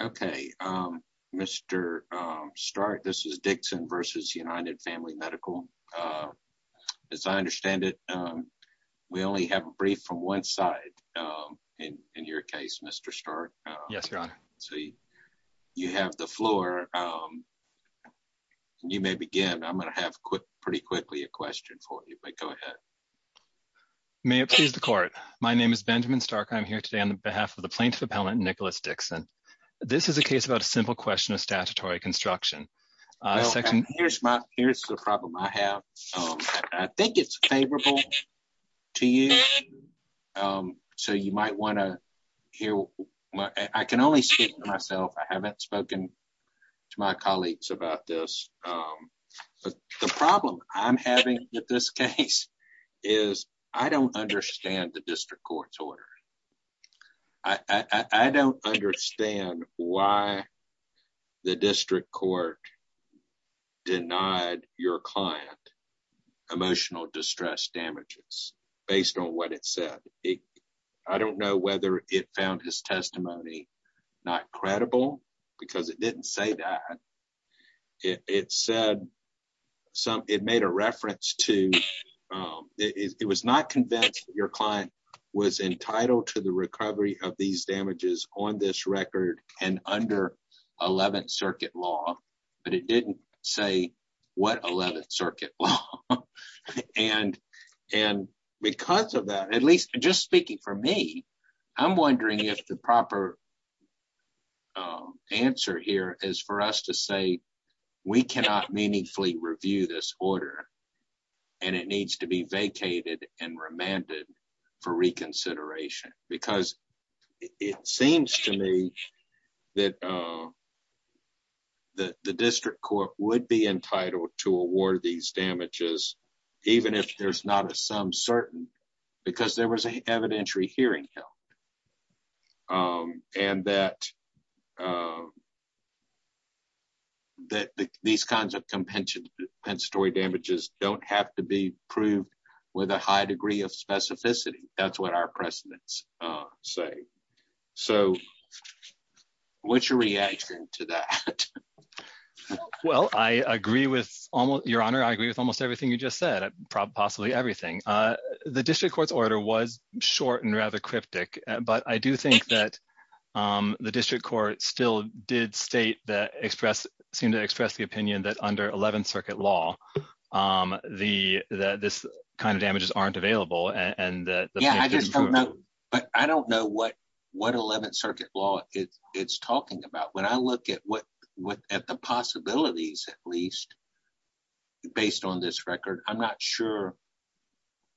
Okay, Mr. Stark, this is Dixon versus United Family Medical. As I understand it, we only have a brief from one side in your case, Mr. Stark. Yes, Your Honor. So you have the floor. You may begin. I'm going to have pretty quickly a question for you, but go ahead. May it please the court. My name is Benjamin Stark. I'm here today on behalf of the plaintiff appellant, Nicholas Dixon. This is a case about a simple question of statutory construction. Here's the problem I have. I think it's favorable to you. So you might want to hear. I can only speak for myself. I haven't spoken to my colleagues about this. The problem I'm having with this case is I don't understand the district court's order. I don't understand why the district court denied your client emotional distress damages based on what it said. I don't know whether it found his testimony not credible because it didn't say that. It said some it made a reference to it was not convinced your client was entitled to the recovery of these damages on this record and under 11th Circuit law. But it didn't say what 11th Circuit law. And and because of that, at least just speaking for me, I'm wondering if the proper answer here is for us to say we cannot meaningfully review this order and it needs to be vacated and remanded for reconsideration, because it seems to me that the district court would be entitled to award these damages, even if there's not a some certain because there was an evidentiary hearing and that. That these kinds of compensatory damages don't have to be proved with a high degree of specificity. That's what our precedents say. So what's your reaction to that? Well, I agree with your honor. I agree with almost everything you just said. Possibly everything. The district court's order was short and rather cryptic. But I do think that the district court still did state that express seem to express the opinion that under 11th Circuit law, the this kind of damages aren't available and that I just don't know. But I don't know what what 11th Circuit law it's talking about. When I look at what at the possibilities, at least based on this record, I'm not sure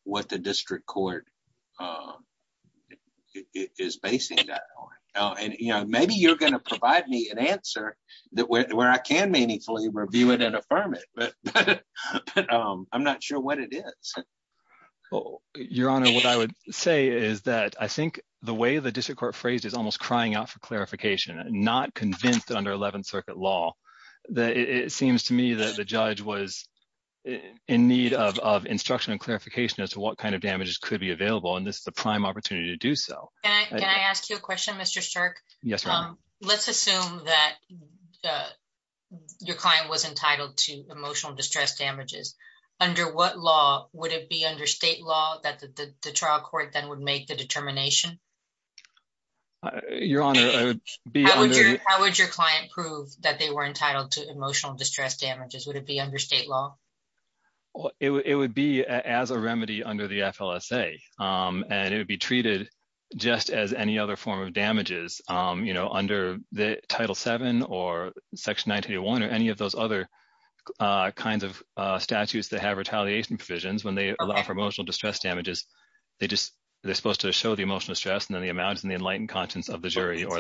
what the district court is basing that on. And, you know, maybe you're going to provide me an answer that where I can meaningfully review it and affirm it. But I'm not sure what it is. Well, your honor, what I would say is that I think the way the district court phrase is almost crying out for clarification, not convinced that under 11th Circuit law that it seems to me that the judge was in need of instruction and clarification as to what kind of damages could be available. And this is a prime opportunity to do so. Can I ask you a question, Mr. Yes. Let's assume that your client was entitled to emotional distress damages. Under what law would it be under state law that the trial court then would make the determination? Your honor, I would be. How would your client prove that they were entitled to emotional distress damages? Would it be under state law? It would be as a remedy under the FLSA and it would be treated just as any other form of damages, you know, under the Title seven or Section 91 or any of those other kinds of statutes that have retaliation provisions when they allow for emotional distress damages. They just they're supposed to show the emotional stress and then the amounts and the enlightened conscience of the jury. Or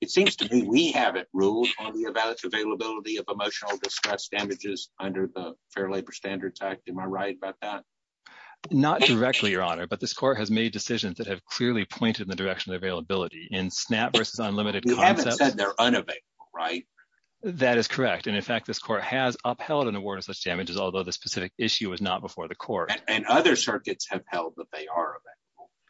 it seems to me we haven't ruled on the availability of emotional distress damages under the Fair Labor Standards Act. Am I right about that? Not directly, your honor. But this court has made decisions that have clearly pointed in the direction of availability in SNAP versus unlimited. You haven't said they're unavailable, right? That is correct. And in fact, this court has upheld an award of such damages, although the specific issue is not before the court. And other circuits have held that they are.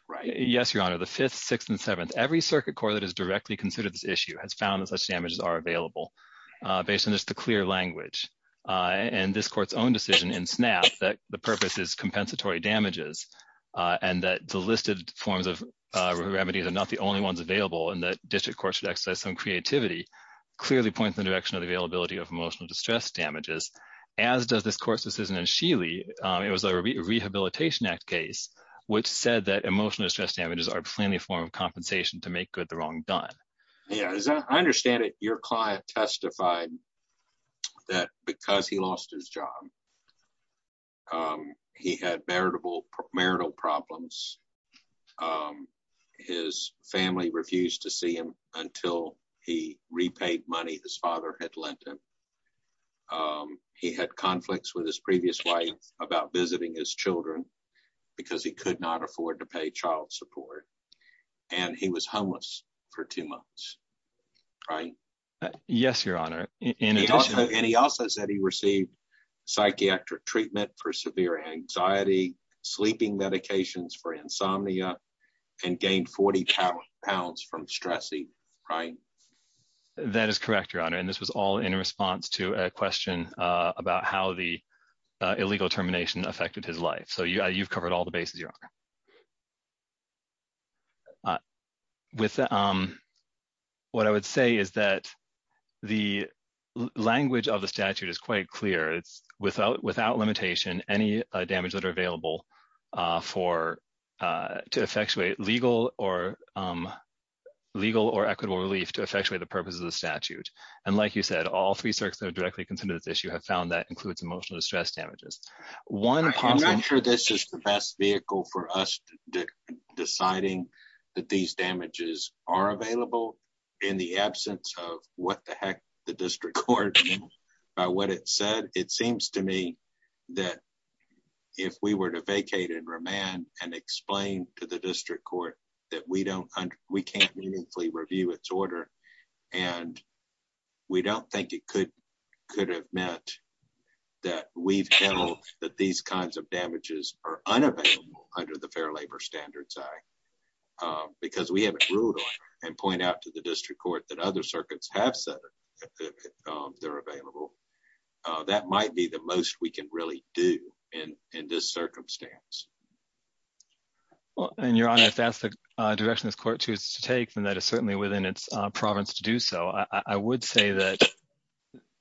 Right. Yes, your honor. The fifth, sixth and seventh, every circuit court that is directly considered this issue has found that such damages are available based on just the clear language. And this court's own decision in SNAP that the purpose is compensatory damages and that the listed forms of remedies are not the only ones available. And that district courts should exercise some creativity clearly points in the direction of the availability of emotional distress damages. As does this court's decision in Sheely. It was a Rehabilitation Act case which said that emotional distress damages are plainly a form of compensation to make good the wrong done. Yeah, I understand it. Your client testified that because he lost his job. He had bearable marital problems. His family refused to see him until he repaid money his father had lent him. He had conflicts with his previous wife about visiting his children because he could not afford to pay child support. And he was homeless for two months. Yes, Your Honor. And he also said he received psychiatric treatment for severe anxiety, sleeping medications for insomnia and gained 40 pounds from stressing. Right. That is correct, Your Honor. And this was all in response to a question about how the illegal termination affected his life. So you've covered all the bases. With what I would say is that the language of the statute is quite clear it's without without limitation, any damage that are available for to effectuate legal or legal or equitable relief to effectuate the purpose of the statute. And like you said, all three circuits that are directly concerned with this you have found that includes emotional distress damages. One, I'm not sure this is the best vehicle for us, deciding that these damages are available in the absence of what the heck, the district court. By what it said, it seems to me that if we were to vacate and remand and explain to the district court that we don't, we can't meaningfully review its order. And we don't think it could could have meant that we've held that these kinds of damages are unavailable under the Fair Labor Standards Act, because we haven't ruled and point out to the district court that other circuits have said they're available. That might be the most we can really do in this circumstance. And Your Honor, if that's the direction this court chooses to take and that is certainly within its province to do so, I would say that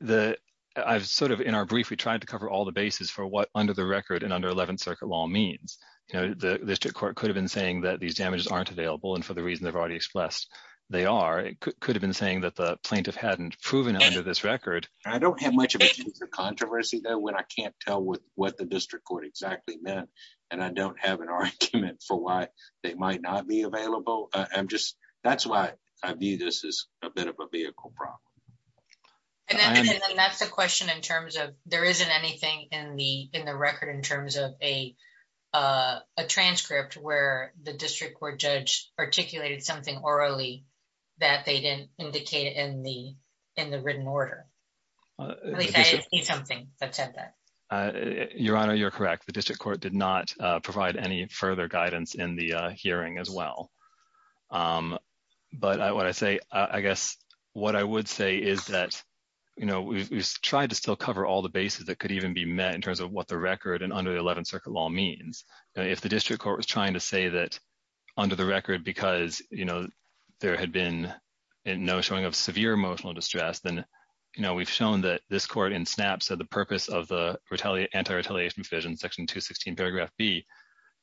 the I've sort of in our brief we tried to cover all the bases for what under the record and under 11th Circuit law means, you know, the district court could have been saying that these damages aren't available and for the reason they've already expressed, they are, it could have been saying that the plaintiff hadn't proven under this record. I don't have much of a controversy though when I can't tell what what the district court exactly meant, and I don't have an argument for why they might not be available. I'm just, that's why I view this as a bit of a vehicle problem. That's the question in terms of, there isn't anything in the in the record in terms of a transcript where the district court judge articulated something orally that they didn't indicate in the, in the written order. Something that said that. Your Honor, you're correct the district court did not provide any further guidance in the hearing as well. But what I say, I guess what I would say is that, you know, we tried to still cover all the bases that could even be met in terms of what the record and under the 11th Circuit law means if the district court was trying to say that under the record because, you know, there had been no showing of severe emotional distress then, you know, we've shown that this court in snaps of the purpose of the retaliate anti retaliation vision section 216 paragraph B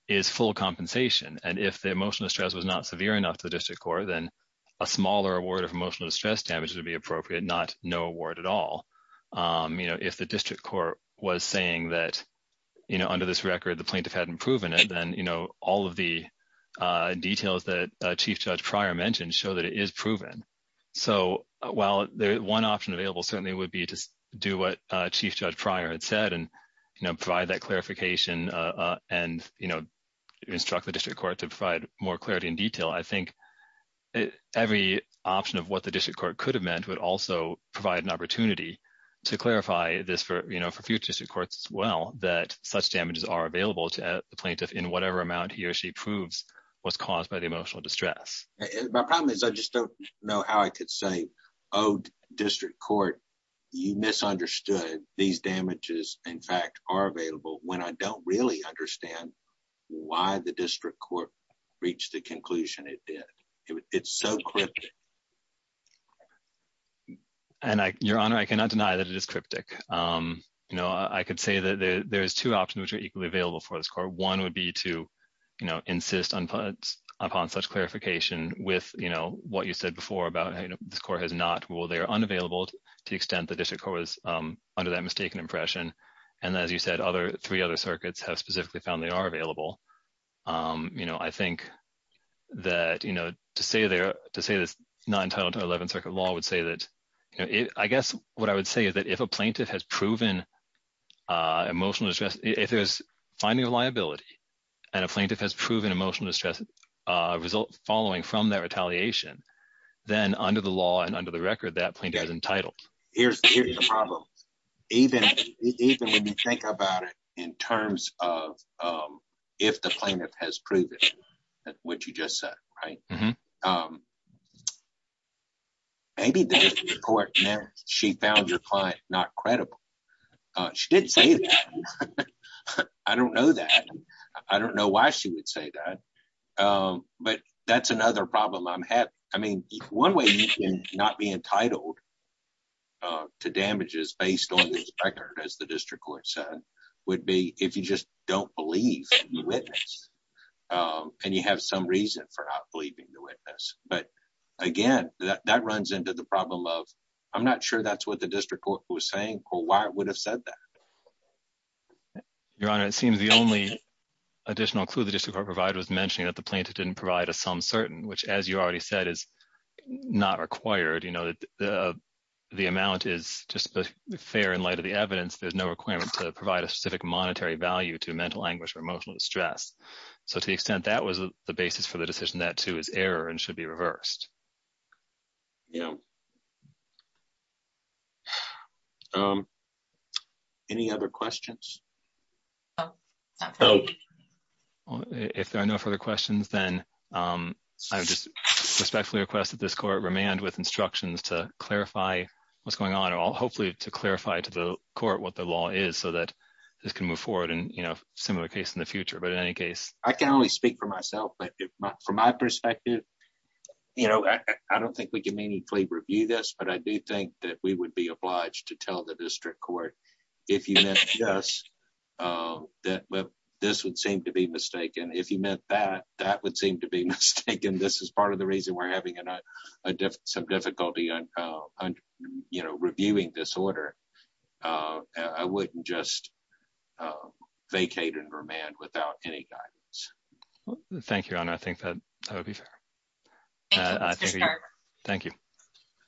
is full compensation and if the emotional stress was not severe enough to the district court then a smaller award of emotional distress damage would be appropriate not no word at all. You know, if the district court was saying that, you know, under this record the plaintiff hadn't proven it then, you know, all of the details that chief judge prior mentioned show that it is proven. So, while the one option available certainly would be to do what chief judge prior had said and, you know, provide that clarification and, you know, instruct the district court to provide more clarity in detail I think every option of what the district court could have meant would also provide an opportunity to clarify this for, you know, for future courts as well that such damages are available to the plaintiff in whatever amount he or she proves was caused by the emotional distress. My problem is I just don't know how I could say, Oh, district court. You misunderstood these damages, in fact, are available when I don't really understand why the district court reached the conclusion it did. It's so quick. And I, Your Honor, I cannot deny that it is cryptic. You know, I could say that there's two options which are equally available for this court one would be to, you know, insist on upon such clarification with, you know, what you said before about this court has not will they are unavailable to the extent the district was under that mistaken impression. And as you said other three other circuits have specifically found they are available. You know, I think that, you know, to say they're to say that's not entitled to 11th Circuit law would say that it I guess what I would say is that if a plaintiff has proven emotional distress, if there's finding a liability, and a plaintiff has proven emotional distress result following from their retaliation, then under the law and under the record that plaintiff is entitled. Here's the problem. Even, even when you think about it in terms of if the plaintiff has proven what you just said, right. Maybe she found your client, not credible. She didn't say. I don't know that. I don't know why she would say that. But that's another problem I'm having. I mean, one way you can not be entitled to damages based on this record as the district court said would be if you just don't believe you witness. And you have some reason for not believing the witness, but again, that runs into the problem of, I'm not sure that's what the district court was saying or why it would have said that. Your Honor, it seems the only additional clue the district court provider was mentioning that the plaintiff didn't provide a some certain which as you already said is not required you know that the amount is just fair in light of the evidence, there's no requirement to provide a specific monetary value to mental anguish or emotional distress. So to the extent that was the basis for the decision that to his error and should be reversed. Yeah. Any other questions. Oh, if there are no further questions, then I just respectfully request that this court remand with instructions to clarify what's going on and I'll hopefully to clarify to the court what the law is so that this can move forward and, you know, similar case in the future but in any case, I can only speak for myself but from my perspective. You know, I don't think we can meaningfully review this but I do think that we would be obliged to tell the district court. If you know, yes, that this would seem to be mistaken if you meant that that would seem to be mistaken. This is part of the reason we're having some difficulty on, you know, reviewing this order. I wouldn't just vacate and remand without any guidance. Thank you. And I think that would be fair. Thank you.